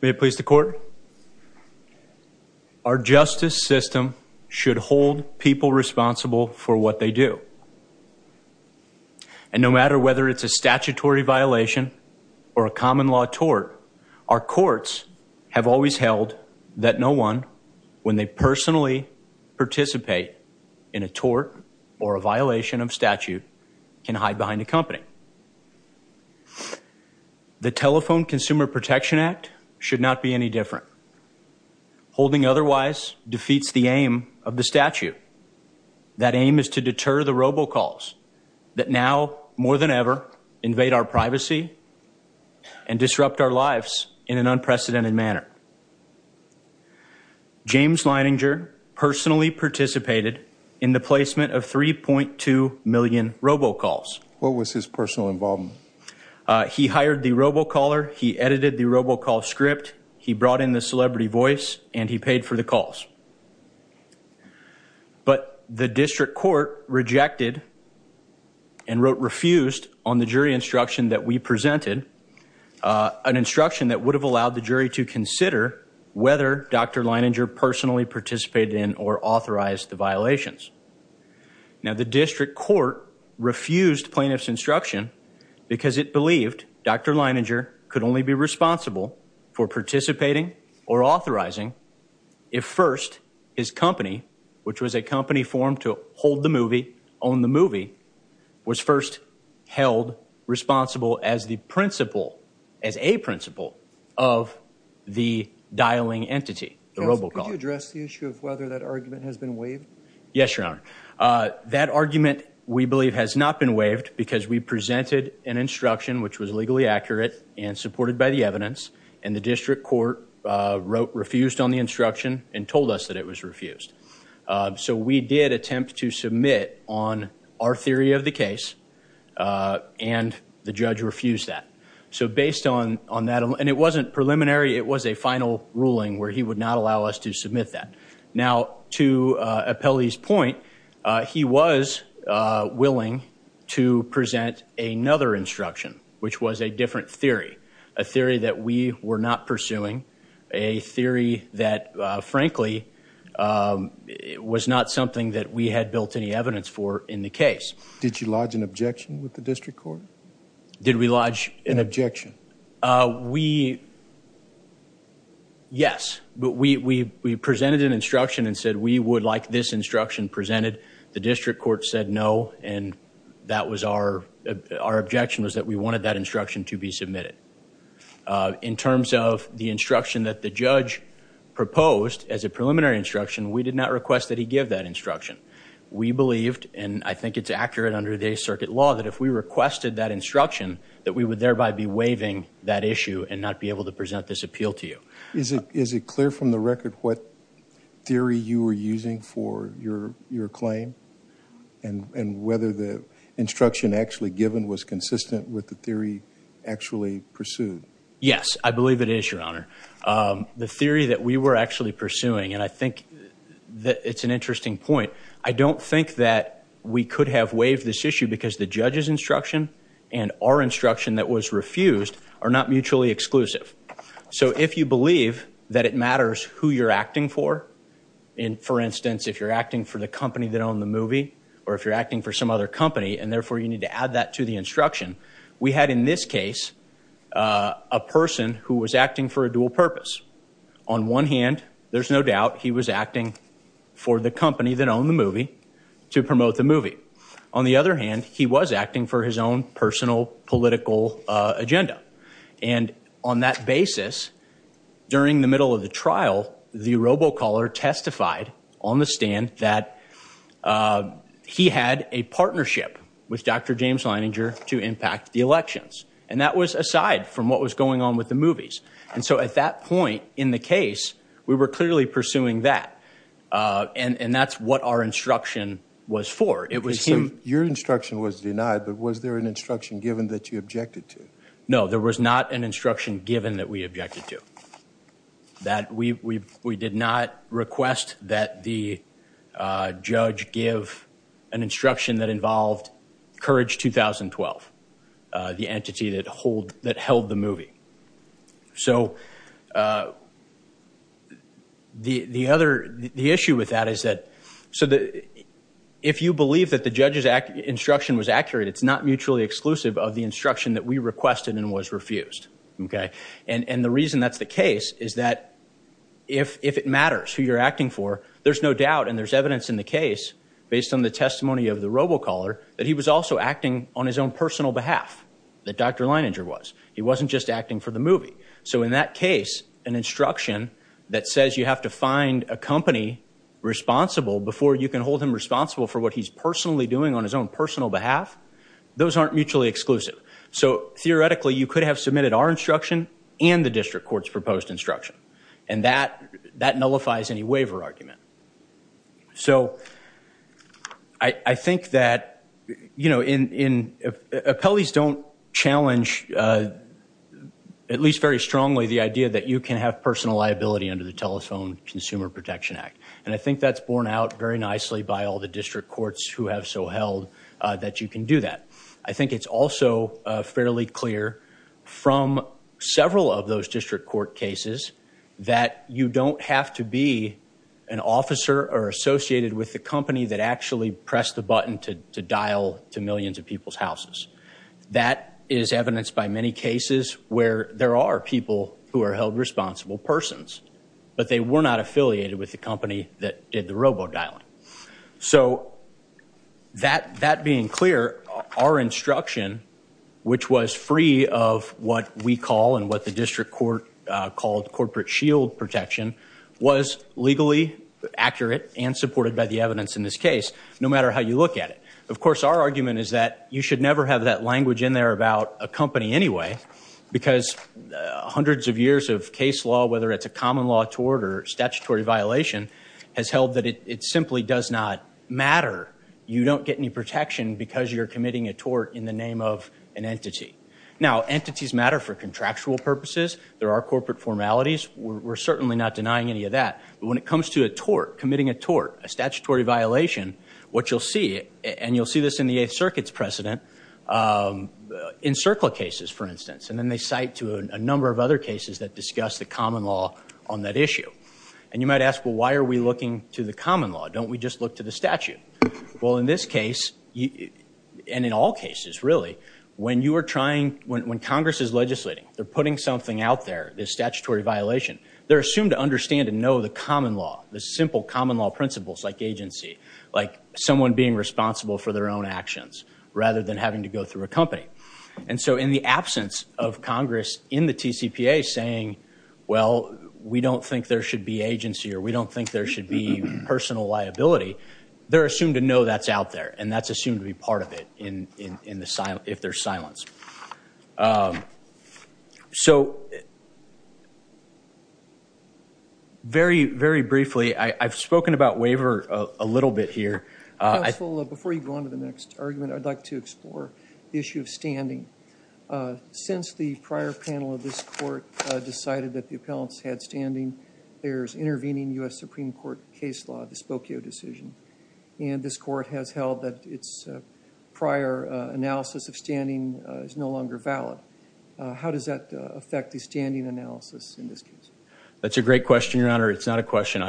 May it please the court. Our justice system should hold people responsible for what they do. And no matter whether it's a statutory violation or a common law tort, our courts have always held that no one, when they personally participate in a tort or a violation of statute, can hide behind a company. The Telephone Consumer Protection Act should not be any different. Holding otherwise defeats the aim of the statute. That aim is to deter the robocalls that now, more than ever, invade our privacy and disrupt our lives in an unprecedented manner. James Leininger personally participated in the placement of 3.2 million robocalls. What was his personal involvement? He hired the robocaller, he edited the robocall script, he brought in the celebrity voice, and he paid for the calls. But the district court rejected and refused on the jury instruction that we presented, an instruction that would have allowed the jury to consider whether Dr. Leininger personally participated in or authorized the violations. Now the district court refused plaintiff's instruction because it believed Dr. Leininger could only be responsible for participating or authorizing if first his company, which was a company formed to hold the movie, own the movie, was first held responsible as the principle, as a principle, of the dialing entity, the robocall. Could you address the issue of whether that argument has been waived? Yes, Your Honor. That argument, we believe, has not been waived because we presented an instruction which was legally accurate and supported by the evidence, and the district court refused on the instruction and told us that it was refused. So we did attempt to submit on our theory of the case, and the judge refused that. So based on that, and it wasn't preliminary, it was a final ruling where he would not allow us to submit that. Now to Apelli's point, he was willing to present another instruction, which was a different pursuing, a theory that, frankly, was not something that we had built any evidence for in the case. Did you lodge an objection with the district court? Did we lodge— An objection. We—yes, but we presented an instruction and said we would like this instruction presented. The district court said no, and that was our—our objection was that we wanted that instruction to be submitted. In terms of the instruction that the judge proposed as a preliminary instruction, we did not request that he give that instruction. We believed, and I think it's accurate under today's circuit law, that if we requested that instruction, that we would thereby be waiving that issue and not be able to present this appeal to you. Is it clear from the record what theory you were using for your—your claim, and whether the instruction actually given was consistent with the theory actually pursued? Yes, I believe it is, Your Honor. The theory that we were actually pursuing, and I think that it's an interesting point, I don't think that we could have waived this issue because the judge's instruction and our instruction that was refused are not mutually exclusive. So if you believe that it matters who you're acting for, in, for instance, if you're acting for the company that owned the movie, or if you're acting for some other company, and therefore you need to add that to the instruction, we had in this case a person who was acting for a dual purpose. On one hand, there's no doubt he was acting for the company that owned the movie to promote the movie. On the other hand, he was acting for his own personal political agenda. And on that basis, during the middle of the trial, the robocaller testified on the stand that he had a partnership with Dr. James Leininger to impact the elections. And that was aside from what was going on with the movies. And so at that point in the case, we were clearly pursuing that. And that's what our instruction was for. It was him— Your instruction was denied, but was there an instruction given that you objected to? No, there was not an instruction given that we objected to. That we did not request that the judge give an instruction that involved Courage 2012, the entity that held the movie. So the issue with that is that, if you believe that the judge's instruction was accurate, it's not mutually exclusive of the instruction that we requested and was refused. Okay? And the reason that's the case is that if it matters who you're acting for, there's no doubt, and there's evidence in the case, based on the testimony of the robocaller, that he was also acting on his own personal behalf, that Dr. Leininger was. He wasn't just acting for the movie. So in that case, an instruction that says you have to find a company responsible before you can hold him responsible for what he's personally doing on his own personal behalf, those aren't mutually exclusive. So theoretically, you could have submitted our instruction and the district court's proposed instruction. And that nullifies any waiver argument. So I think that, you know, appellees don't challenge, at least very strongly, the idea that you can have personal liability under the Telephone Consumer Protection Act. And I think that's borne out very nicely by all the district courts who have so held that you can do that. I think it's also fairly clear from several of those district court cases that you don't have to be an officer or associated with the company that actually pressed the button to dial to millions of people's houses. That is evidenced by many cases where there are people who are held responsible persons, but they were not affiliated with the company that did the robo-dialing. So that being clear, our instruction, which was free of what we call and what the district court called corporate shield protection, was legally accurate and supported by the evidence in this case, no matter how you look at it. Of course, our argument is that you should never have that language in there about a company anyway, because hundreds of years of case law, whether it's a common law tort or statutory violation, has held that it simply does not matter. You don't get any protection because you're committing a tort in the name of an entity. Now, entities matter for contractual purposes. There are corporate formalities. We're certainly not denying any of that. But when it comes to a tort, committing a tort, a statutory violation, what you'll see, and you'll see this in the Eighth Circuit's precedent, in circle cases, for instance, and then they cite to a number of other cases that discuss the common law on that issue. And you might ask, well, why are we looking to the common law? Don't we just look to the statute? Well, in this case, and in all cases, really, when you are trying, when Congress is legislating, they're putting something out there, this statutory violation, they're assumed to understand and know the common law, the simple common law principles, like agency, like someone being responsible for their own actions, rather than having to go through a company. And so, in the absence of Congress, in the TCPA, saying, well, we don't think there should be agency, or we don't think there should be personal liability, they're assumed to know that's out there, and that's assumed to be part of it, if there's silence. So, very, very briefly, I've spoken about waiver a little bit here. Counsel, before you go on to the next argument, I'd like to explore the issue of standing. Since the prior panel of this Court decided that the appellants had standing, there's intervening U.S. Supreme Court case law, the Spokio decision, and this Court has held that its prior analysis of standing is no longer valid. How does that affect the standing analysis in this case? That's a great question, Your Honor. It's not a question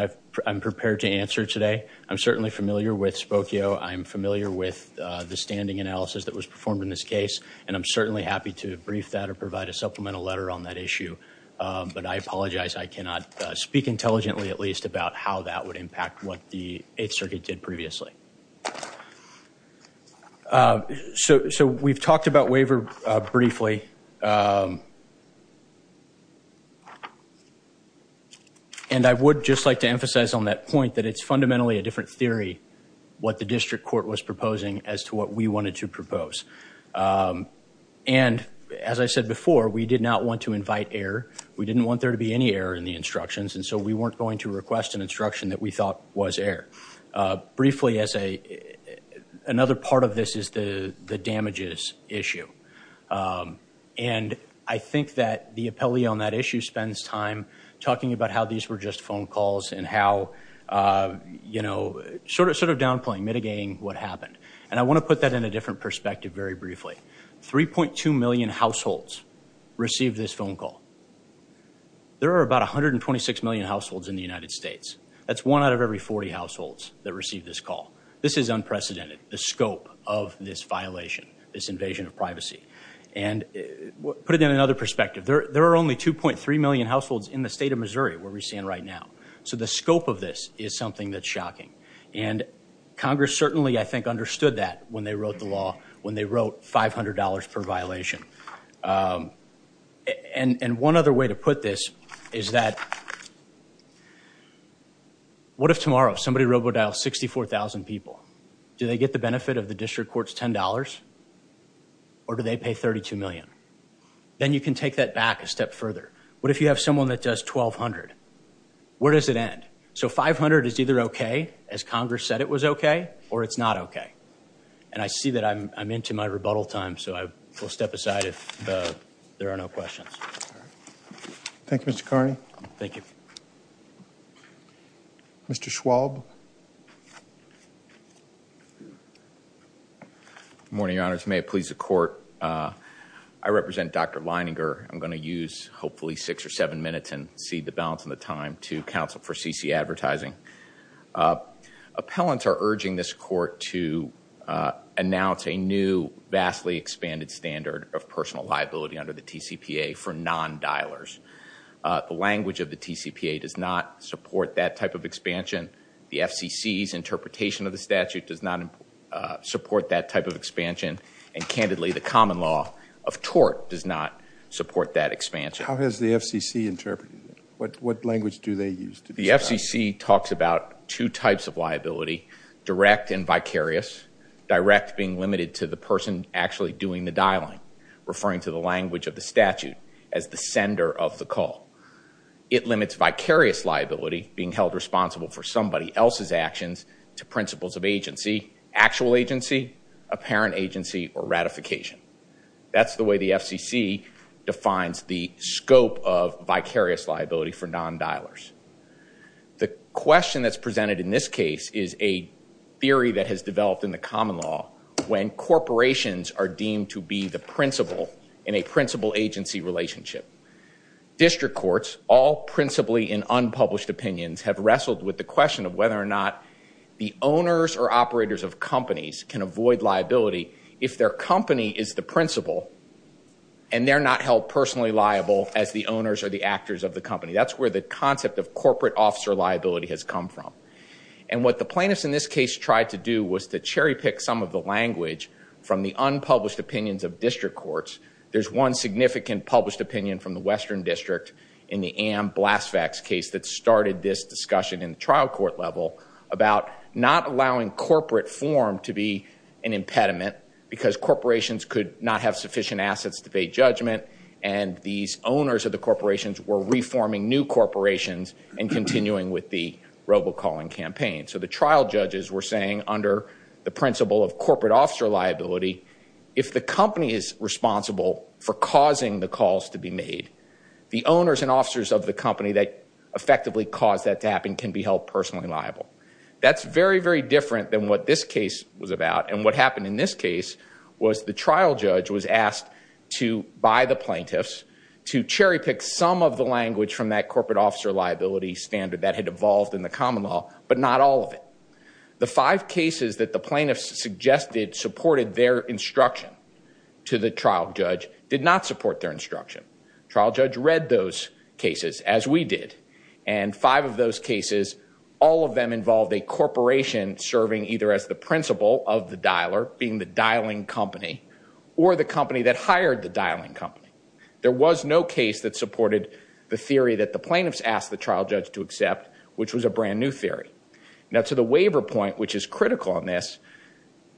I'm prepared to answer today. I'm certainly familiar with Spokio. I'm familiar with the standing analysis that was performed in this case, and I'm certainly happy to brief that or provide a supplemental letter on that issue. But I apologize, I cannot speak intelligently, at least, about how that would impact what the Eighth Circuit did previously. So we've talked about waiver briefly, and I would just like to emphasize on that point that it's fundamentally a different theory what the district court was proposing as to what we wanted to propose. And as I said before, we did not want to invite error. We didn't want there to be any error in the instructions, and so we weren't going to request an instruction that we thought was error. Briefly, another part of this is the damages issue. And I think that the appellee on that issue spends time talking about how these were just phone calls and how, you know, sort of downplaying, mitigating what happened. And I want to put that in a different perspective very briefly. 3.2 million households received this phone call. There are about 126 million households in the United States. That's one out of every 40 households that received this call. This is unprecedented, the scope of this violation, this invasion of privacy. And put it in another perspective, there are only 2.3 million households in the scope of this is something that's shocking. And Congress certainly, I think, understood that when they wrote the law, when they wrote $500 per violation. And one other way to put this is that what if tomorrow somebody robodials 64,000 people? Do they get the benefit of the district court's $10? Or do they pay 32 million? Then you can take that back a step to $500. Where does it end? So $500 is either okay, as Congress said it was okay, or it's not okay. And I see that I'm into my rebuttal time, so I will step aside if there are no questions. Thank you, Mr. Carney. Thank you. Mr. Schwalb. Good morning, Your Honors. May it please the court. I represent Dr. Leininger. I'm going to use hopefully six or seven minutes and cede the balance and the time to counsel for CC advertising. Appellants are urging this court to announce a new vastly expanded standard of personal liability under the TCPA for non-dialers. The language of the TCPA does not support that type of expansion. The FCC's interpretation of the statute does not support that type of expansion. And candidly, the common law of tort does not support that expansion. How has the FCC interpreted it? What language do they use? The FCC talks about two types of liability, direct and vicarious. Direct being limited to the person actually doing the dialing, referring to the language of the statute as the sender of the call. It limits vicarious liability, being held responsible for somebody else's actions, to principles of agency, actual agency, apparent agency, or ratification. That's the way the FCC defines the scope of vicarious liability for non-dialers. The question that's presented in this case is a theory that has developed in the common law when corporations are deemed to be the principal in a principal agency relationship. District courts, all principally in unpublished opinions, have wrestled with the question of whether or not the owners or operators of companies can avoid liability if their company is the principal and they're not held personally liable as the owners or the actors of the company. That's where the concept of corporate officer liability has come from. And what the plaintiffs in this case tried to do was to cherry pick some of the language from the unpublished opinions of district courts. There's one significant published opinion from the Western District in the Ann Blasvac's case that started this trial court level about not allowing corporate form to be an impediment because corporations could not have sufficient assets to pay judgment and these owners of the corporations were reforming new corporations and continuing with the robocalling campaign. So the trial judges were saying under the principle of corporate officer liability, if the company is responsible for causing the calls to be made, the owners and officers of the company that effectively caused that to happen can be held personally liable. That's very, very different than what this case was about. And what happened in this case was the trial judge was asked to, by the plaintiffs, to cherry pick some of the language from that corporate officer liability standard that had evolved in the common law, but not all of it. The five cases that the plaintiffs suggested supported their instruction to the trial judge did not what we did. And five of those cases, all of them involved a corporation serving either as the principal of the dialer, being the dialing company, or the company that hired the dialing company. There was no case that supported the theory that the plaintiffs asked the trial judge to accept, which was a brand new theory. Now to the waiver point, which is critical on this,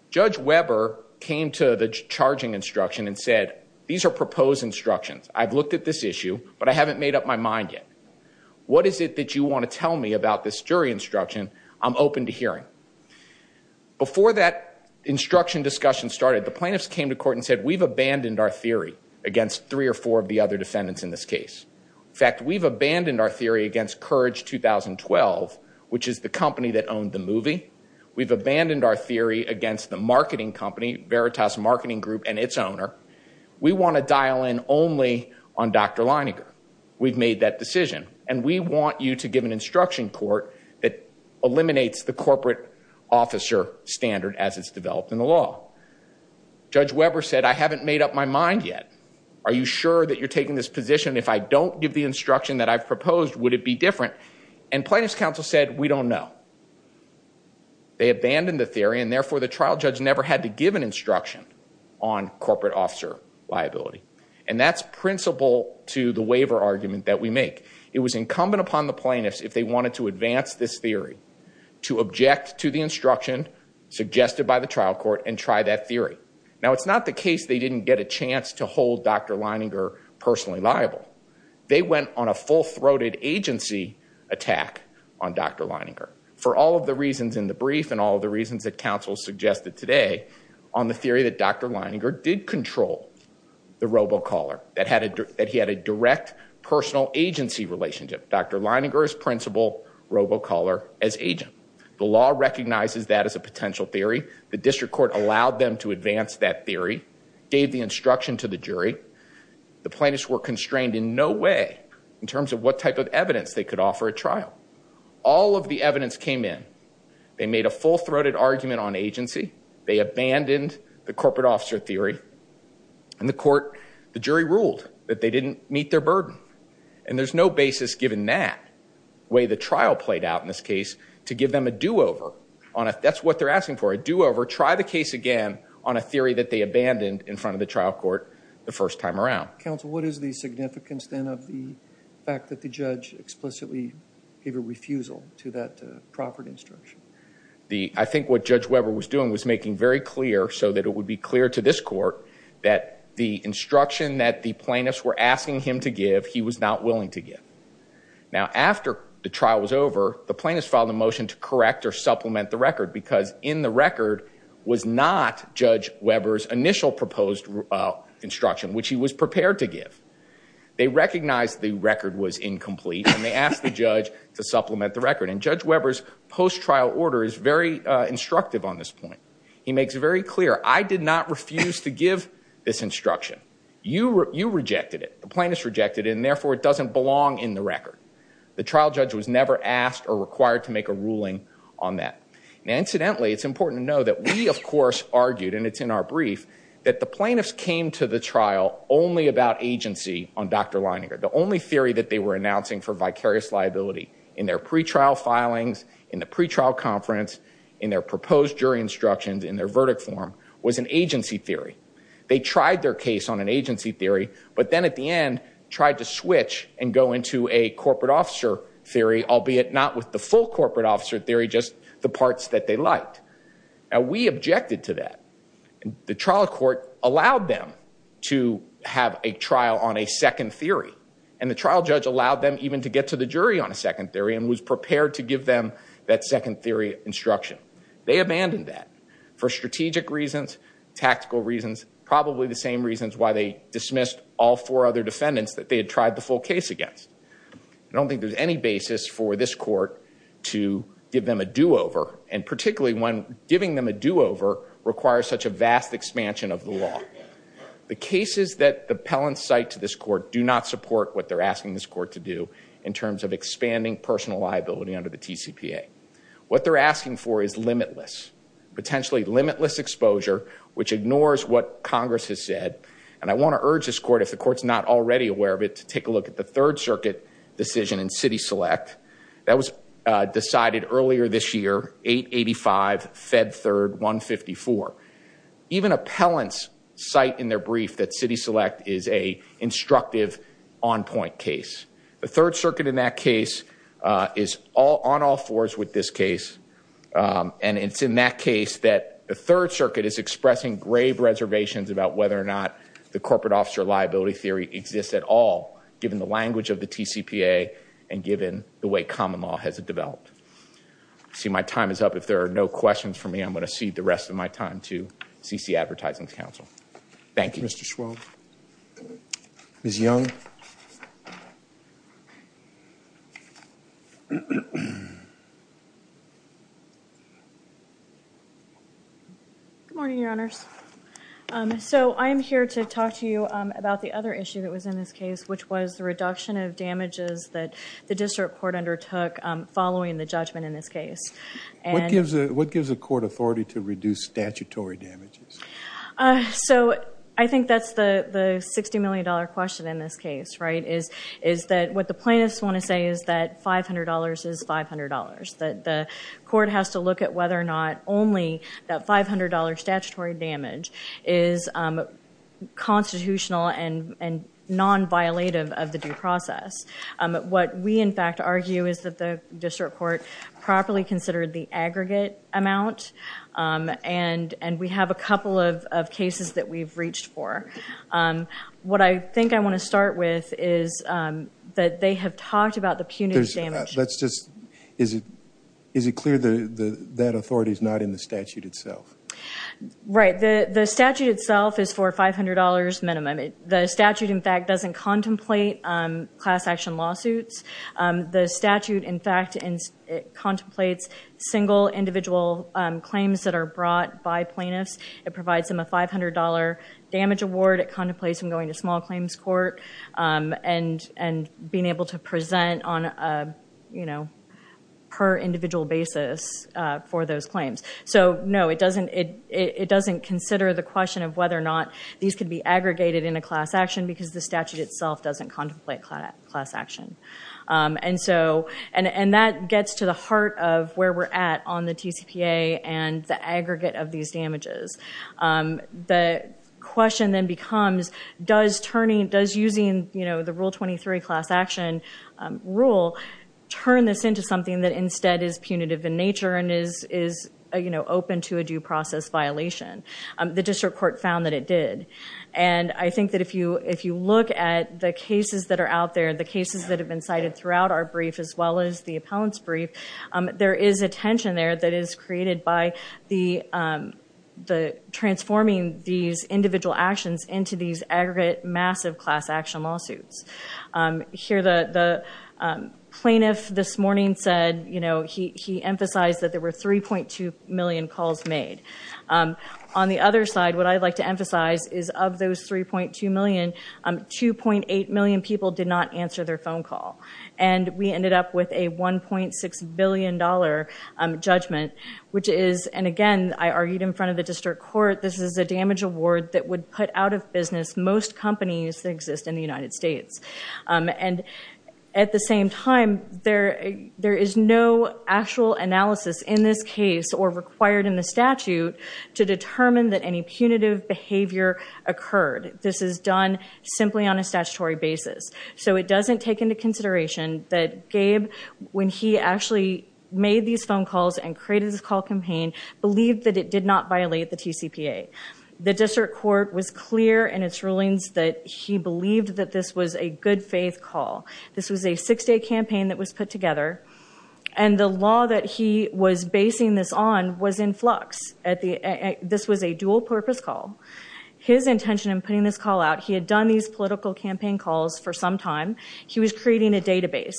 Judge Weber came to the charging instruction and said, these are proposed instructions. I've looked at this issue, but I haven't made up my mind yet. What is it that you want to tell me about this jury instruction? I'm open to hearing. Before that instruction discussion started, the plaintiffs came to court and said, we've abandoned our theory against three or four of the other defendants in this case. In fact, we've abandoned our theory against Courage 2012, which is the company that owned the movie. We've abandoned our theory against the marketing company, Veritas Marketing Group and its owner. We want to dial in only on Dr. Leininger. We've made that decision, and we want you to give an instruction court that eliminates the corporate officer standard as it's developed in the law. Judge Weber said, I haven't made up my mind yet. Are you sure that you're taking this position? If I don't give the instruction that I've proposed, would it be different? And plaintiffs' counsel said, we don't know. They abandoned the theory, and therefore, the trial judge never had to give an instruction on corporate officer liability. And that's principle to the waiver argument that we make. It was incumbent upon the plaintiffs, if they wanted to advance this theory, to object to the instruction suggested by the trial court and try that theory. Now, it's not the case they didn't get a chance to hold Dr. Leininger personally liable. They went on a full-throated agency attack on Dr. Leininger for all of the reasons in the brief and all of the reasons that counsel suggested today on the theory that Dr. Leininger did control the robocaller, that he had a direct personal agency relationship. Dr. Leininger is principal robocaller as agent. The law recognizes that as a potential theory. The district court allowed them to advance that theory, gave the instruction to the jury. The plaintiffs were constrained in no way in terms of what type of evidence they could They made a full-throated argument on agency. They abandoned the corporate officer theory. And the court, the jury ruled that they didn't meet their burden. And there's no basis given that way the trial played out in this case to give them a do-over on a, that's what they're asking for, a do-over, try the case again on a theory that they abandoned in front of the trial court the first time around. Counsel, what is the significance then of the fact that the judge explicitly gave a refusal to that proffered instruction? The, I think what Judge Weber was doing was making very clear so that it would be clear to this court that the instruction that the plaintiffs were asking him to give, he was not willing to give. Now after the trial was over, the plaintiffs filed a motion to correct or supplement the record because in the record was not Judge Weber's initial proposed instruction, which he was prepared to give. They recognized the record was incomplete and they asked the judge to supplement the record. And Judge Weber's post-trial order is very instructive on this point. He makes it very clear, I did not refuse to give this instruction. You rejected it. The plaintiffs rejected it and therefore it doesn't belong in the record. The trial judge was never asked or required to make a ruling on that. Now incidentally, it's important to know that we of course argued, and it's in our brief, that the plaintiffs came to the trial only about agency on Dr. Leininger. The only theory that they were announcing for vicarious liability in their pre-trial filings, in the pre-trial conference, in their proposed jury instructions, in their verdict form, was an agency theory. They tried their case on an agency theory, but then at the end tried to switch and go into a corporate officer theory, albeit not with the full corporate officer theory, just the parts that they liked. We objected to that. The trial court allowed them to have a trial on a second theory. And the trial judge allowed them even to get to the jury on a second theory and was prepared to give them that second theory instruction. They abandoned that for strategic reasons, tactical reasons, probably the same reasons why they dismissed all four other defendants that they had tried the full case against. I don't think there's any basis for this court to give them a do-over, and particularly when giving them a do-over requires such a vast expansion of the law. The cases that the appellants cite to this court do not support what they're asking this court to do in terms of expanding personal liability under the TCPA. What they're asking for is limitless, potentially limitless exposure, which ignores what Congress has said. And I want to urge this court, if the court's not already aware of it, to take a third circuit decision in City Select that was decided earlier this year, 885, Fed Third, 154. Even appellants cite in their brief that City Select is a instructive on-point case. The third circuit in that case is on all fours with this case. And it's in that case that the third circuit is expressing grave reservations about whether or not the corporate officer liability theory exists at all, given the language of the TCPA and given the way common law has developed. I see my time is up. If there are no questions for me, I'm going to cede the rest of my time to CC Advertising's counsel. Thank you. Mr. Schwab. Ms. Young. Good morning, Your Honors. So I'm here to talk to you about the other issue that was in this case, which was the reduction of damages that the district court undertook following the judgment in this case. What gives a court authority to reduce statutory damages? So I think that's the $60 million question in this case, right, is that what the plaintiffs want to say is that $500 is $500, that the court has to look at whether or not only that $500 statutory damage is constitutional and non-violative of the due process. What we in fact argue is that the district court properly considered the aggregate amount, and we have a couple of cases that we've reached for. What I think I want to start with is that they have talked about the punitive damage. Let's just, is it clear that that authority is not in the statute itself? Right. The statute itself is for $500 minimum. The statute in fact doesn't contemplate class action lawsuits. The statute in fact contemplates single individual claims that are brought by plaintiffs. It provides them a $500 damage award. It contemplates them going to small claims court and being able to present on a per individual basis for those claims. So no, it doesn't consider the question of whether or not these could be aggregated in a class action because the statute itself doesn't contemplate class action. And that gets to the heart of where we're at on the TCPA and the aggregate of these damages. The question then becomes, does using the Rule 23 class action rule turn this into something that instead is punitive in nature and is open to a due process violation? The district court found that it did. And I think that if you look at the cases that are out there, the cases that have been cited throughout our brief as well as the appellant's brief, there is a tension there that is created by the transforming these individual actions into these aggregate massive class action lawsuits. Here the plaintiff this morning said, he emphasized that there were 3.2 million calls made. On the other side, what I'd like to emphasize is of those 3.2 million, 2.8 million people did not answer their phone call. And we ended up with a $1.6 billion judgment, which is, and again, I argued in front of the district court, this is a damage award that would put out of business most companies that exist in the United States. And at the same time, there is no actual analysis in this case or required in the statute to So it doesn't take into consideration that Gabe, when he actually made these phone calls and created this call campaign, believed that it did not violate the TCPA. The district court was clear in its rulings that he believed that this was a good faith call. This was a six day campaign that was put together. And the law that he was basing this on was in flux. This was a dual purpose call. His intention in putting this call out, he had done these political campaign calls for some time. He was creating a database.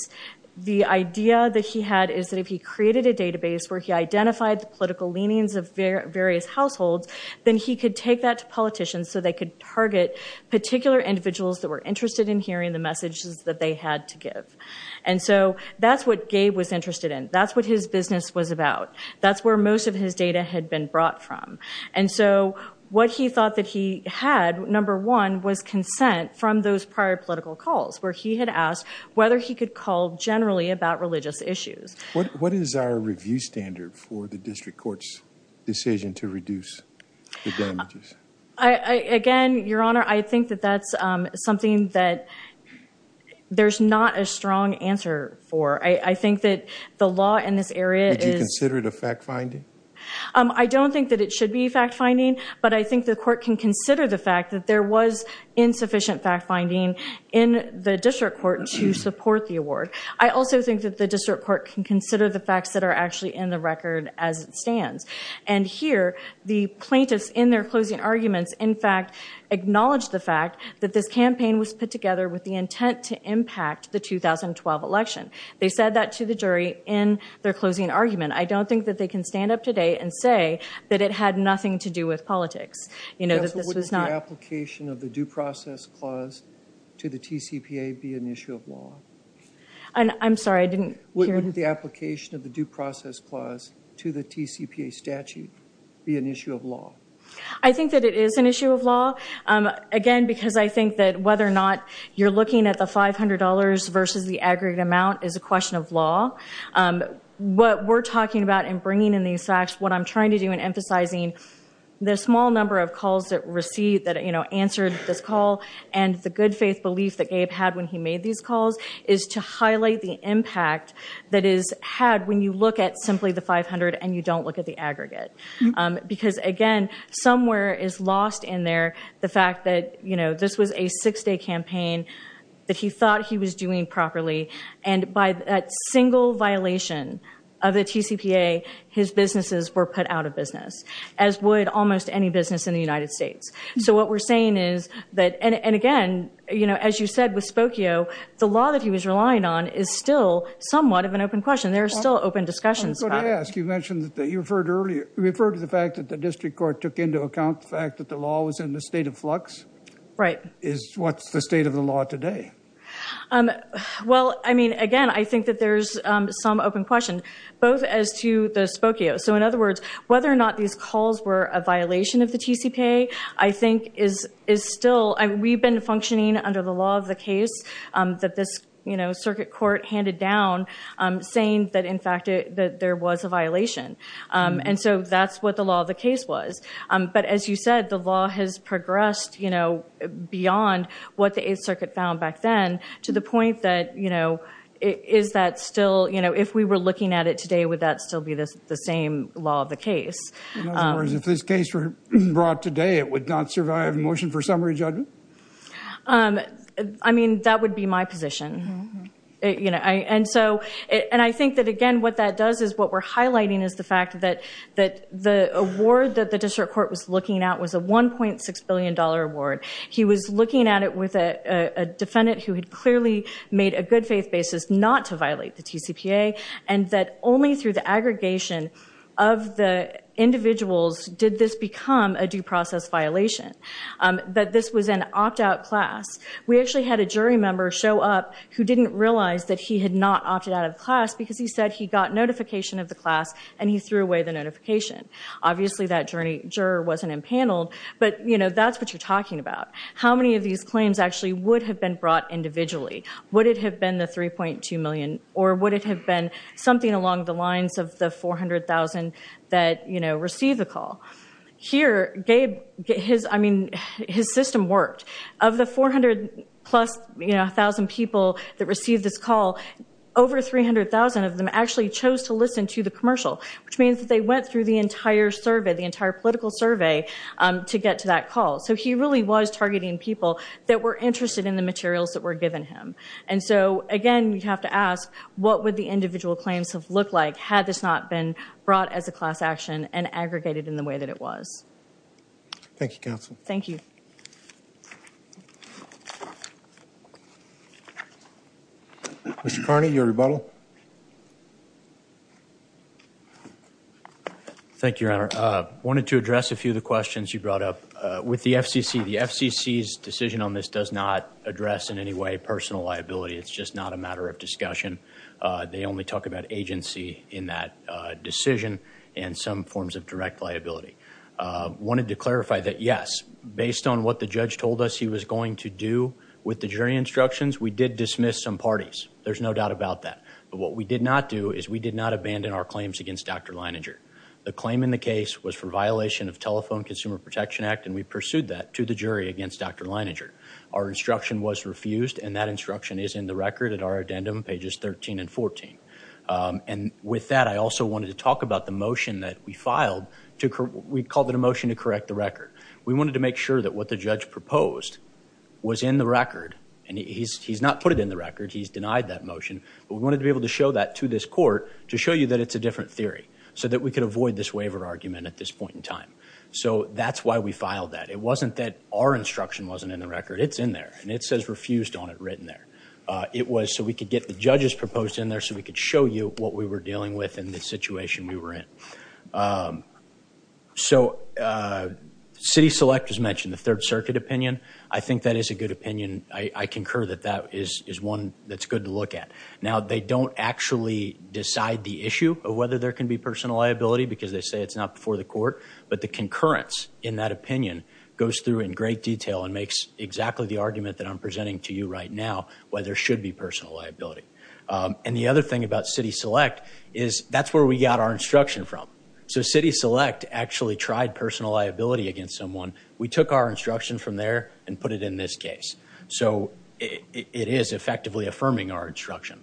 The idea that he had is that if he created a database where he identified the political leanings of various households, then he could take that to politicians so they could target particular individuals that were interested in hearing the messages that they had to give. And so that's what Gabe was interested in. That's what his business was about. That's where most of his data had been brought from. And so what he thought that he had, number one, was consent from those prior political calls, where he had asked whether he could call generally about religious issues. What is our review standard for the district court's decision to reduce the damages? Again, Your Honor, I think that that's something that there's not a strong answer for. I think that the law in this area is... Would you consider it a fact finding? I don't think that it should be a fact finding, but I think the court can consider the fact that there was insufficient fact finding in the district court to support the award. I also think that the district court can consider the facts that are actually in the record as it stands. And here, the plaintiffs, in their closing arguments, in fact, acknowledged the fact that this campaign was put together with the intent to impact the 2012 election. They said that to the jury in their closing argument. I don't think that they can stand up today and say that it had nothing to do with politics. Yes, but wouldn't the application of the due process clause to the TCPA be an issue of law? I'm sorry, I didn't hear... Wouldn't the application of the due process clause to the TCPA statute be an issue of law? I think that it is an issue of law. Again, because I think that whether or not you're looking at the $500 versus the aggregate amount is a question of law. What we're talking about and bringing in these facts, what I'm trying to do in emphasizing the small number of calls that answered this call and the good faith belief that Gabe had when he made these calls is to highlight the impact that is had when you look at simply the $500 and you don't look at the aggregate. Because again, somewhere is lost in there the fact that this was a six day campaign that he thought he was doing properly. And by that single violation of the TCPA, his businesses were put out of business, as would almost any business in the United States. So what we're saying is that, and again, as you said with Spokio, the law that he was relying on is still somewhat of an open question. There are still open discussions about it. I was going to ask, you mentioned that you referred to earlier, you referred to the fact that the district court took into account the fact that the law was in the state of flux. What's the state of the law today? Well, I mean, again, I think that there's some open question, both as to the Spokio. So in other words, whether or not these calls were a violation of the TCPA, I think is still, we've been functioning under the law of the case that this circuit court handed down saying that in fact that there was a violation. And so that's what the law of the case was. But as you said, the law has progressed beyond what the Eighth Circuit found back then to the point that is that still, if we were looking at it today, would that still be the same law of the case? In other words, if this case were brought today, it would not survive a motion for summary judgment? I mean, that would be my position. And I think that, again, what that does is what we're looking at was a $1.6 billion award. He was looking at it with a defendant who had clearly made a good faith basis not to violate the TCPA, and that only through the aggregation of the individuals did this become a due process violation, that this was an opt-out class. We actually had a jury member show up who didn't realize that he had not opted out of class because he said he got notification of the class, and he threw away the notification. Obviously, that jury wasn't impaneled, but that's what you're talking about. How many of these claims actually would have been brought individually? Would it have been the $3.2 million, or would it have been something along the lines of the 400,000 that received the call? Here, his system worked. Of the 400-plus thousand people that received this call, over 300,000 of them actually chose to listen to the commercial, which means that they went through the entire survey, the entire political survey, to get to that call. So he really was targeting people that were interested in the materials that were given him. And so, again, you'd have to ask, what would the individual claims have looked like had this not been brought as a class action and aggregated in the way that it was? Thank you, counsel. Thank you. Mr. Carney, your rebuttal. Thank you, Your Honor. I wanted to address a few of the questions you brought up. With the FCC, the FCC's decision on this does not address in any way personal liability. It's just not a matter of discussion. They only talk about agency in that decision and some of the questions that were asked, they were answered with a lot of respect. But I think what we did not do is we did not abandon our claims against Dr. Leininger. The claim in the case was for violation of Telephone Consumer Protection Act, and we pursued that to the jury against Dr. Leininger. Our instruction was refused, and that instruction is in the record at our addendum, pages 13 and 14. And with that, I also wanted to talk about the motion that we filed to – we called it a motion to correct the record. We wanted to make sure that what the judge proposed was in the record. And he's not put it in the record. He's denied that motion. But we wanted to be able to show that to this court to show you that it's a different theory so that we could avoid this waiver argument at this point in time. So that's why we filed that. It wasn't that our instruction wasn't in the record. It's in there, and it says refused on it written there. It was so we could get the judges proposed in there so we could show you what we were dealing with and the situation we were in. So City Select has mentioned the Third Circuit opinion. I think that is a good opinion. I concur that that is one that's good to look at. Now, they don't actually decide the issue of whether there can be personal liability because they say it's not before the court. But the concurrence in that opinion goes through in great detail and makes exactly the argument that I'm presenting to you right now, whether there should be personal liability. And the other thing about City Select is that's where we got our instruction from. So City Select actually tried personal liability against someone. We took our instruction from there and put it in this case. So it is effectively affirming our instruction.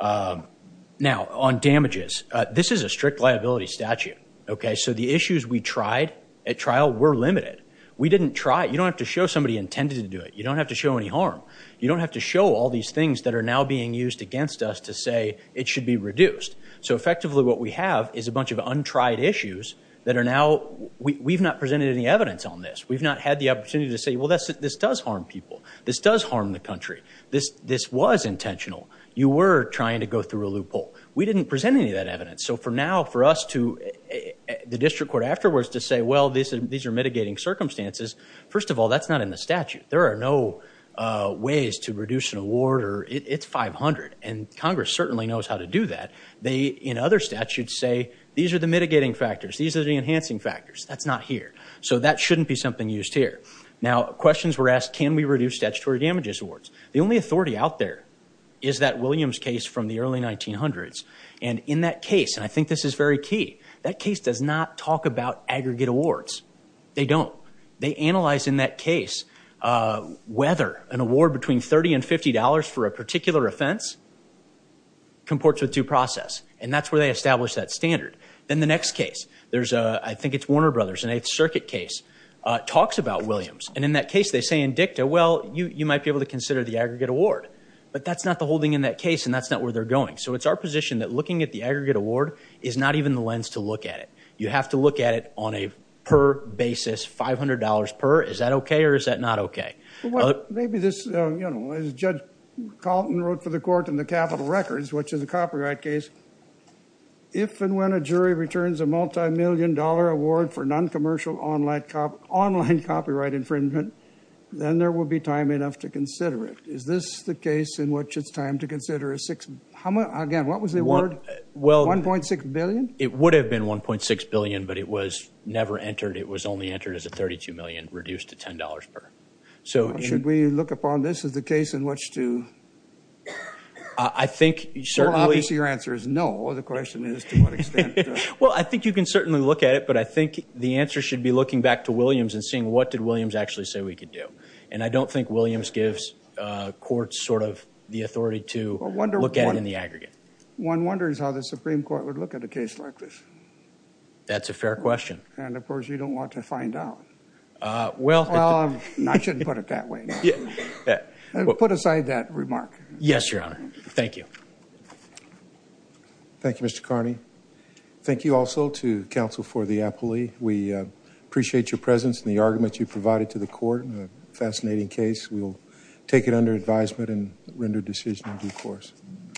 Now on damages, this is a strict liability statute. Okay? So the issues we tried at trial were limited. We didn't try it. You don't have to show somebody intended to do it. You don't have to show any harm. You don't have to show all these things that are now being used against us to say it should be reduced. So effectively what we have is a bunch of untried issues that are now, we've not presented any evidence on this. We've not had the opportunity to say, well, this does harm people. This does harm the country. This was intentional. You were trying to go through a loophole. We didn't present any of that evidence. So for now, for us to, the district court afterwards to say, well, these are mitigating circumstances, first of all, that's not in the statute. There are no ways to reduce an award or, it's 500, and Congress certainly knows how to do that. They, in other statutes, say, these are the mitigating factors. These are the enhancing factors. That's not here. So that shouldn't be something used here. Now questions were asked, can we reduce statutory damages awards? The only authority out there is that Williams case from the early 1900s. And in that case, and I think this is very key, that case does not talk about aggregate awards. They don't. They analyze in that case whether an award between $30 and $50 for a particular offense comports with due process. And that's where they established that standard. Then the next case, there's a, I think it's Warner Brothers, an Eighth Circuit case, talks about Williams. And in that case, they say in dicta, well, you might be able to consider the aggregate award. But that's not the holding in that case, and that's not where they're going. So it's our position that looking at the aggregate award is not even the lens to look at it. You have to look at it on a per basis, $500 per. Is that okay or is that not okay? Well, maybe this, you know, as Judge Colton wrote for the court in the capital records, which is a copyright case, if and when a jury returns a multimillion dollar award for non-commercial online copyright infringement, then there will be time enough to consider it. Is this the case in which it's time to consider a six, how much, again, what was the award? $1.6 billion? It would have been $1.6 billion, but it was never entered. It was only entered as a $32 million, reduced to $10 per. So should we look upon this as the case in which to? I think certainly. Well, obviously, your answer is no. The question is to what extent? Well, I think you can certainly look at it, but I think the answer should be looking back to Williams and seeing what did Williams actually say we could do. And I don't think Williams gives courts sort of the authority to look at it in the aggregate. One wonders how the Supreme Court would look at a case like this. That's a fair question. And, of course, you don't want to find out. Well, I shouldn't put it that way. Put aside that remark. Yes, Your Honor. Thank you. Thank you, Mr. Carney. Thank you also to counsel for the appellee. We appreciate your presence and the argument you provided to the court in a fascinating case. We will take it under advisement and render decision in due course.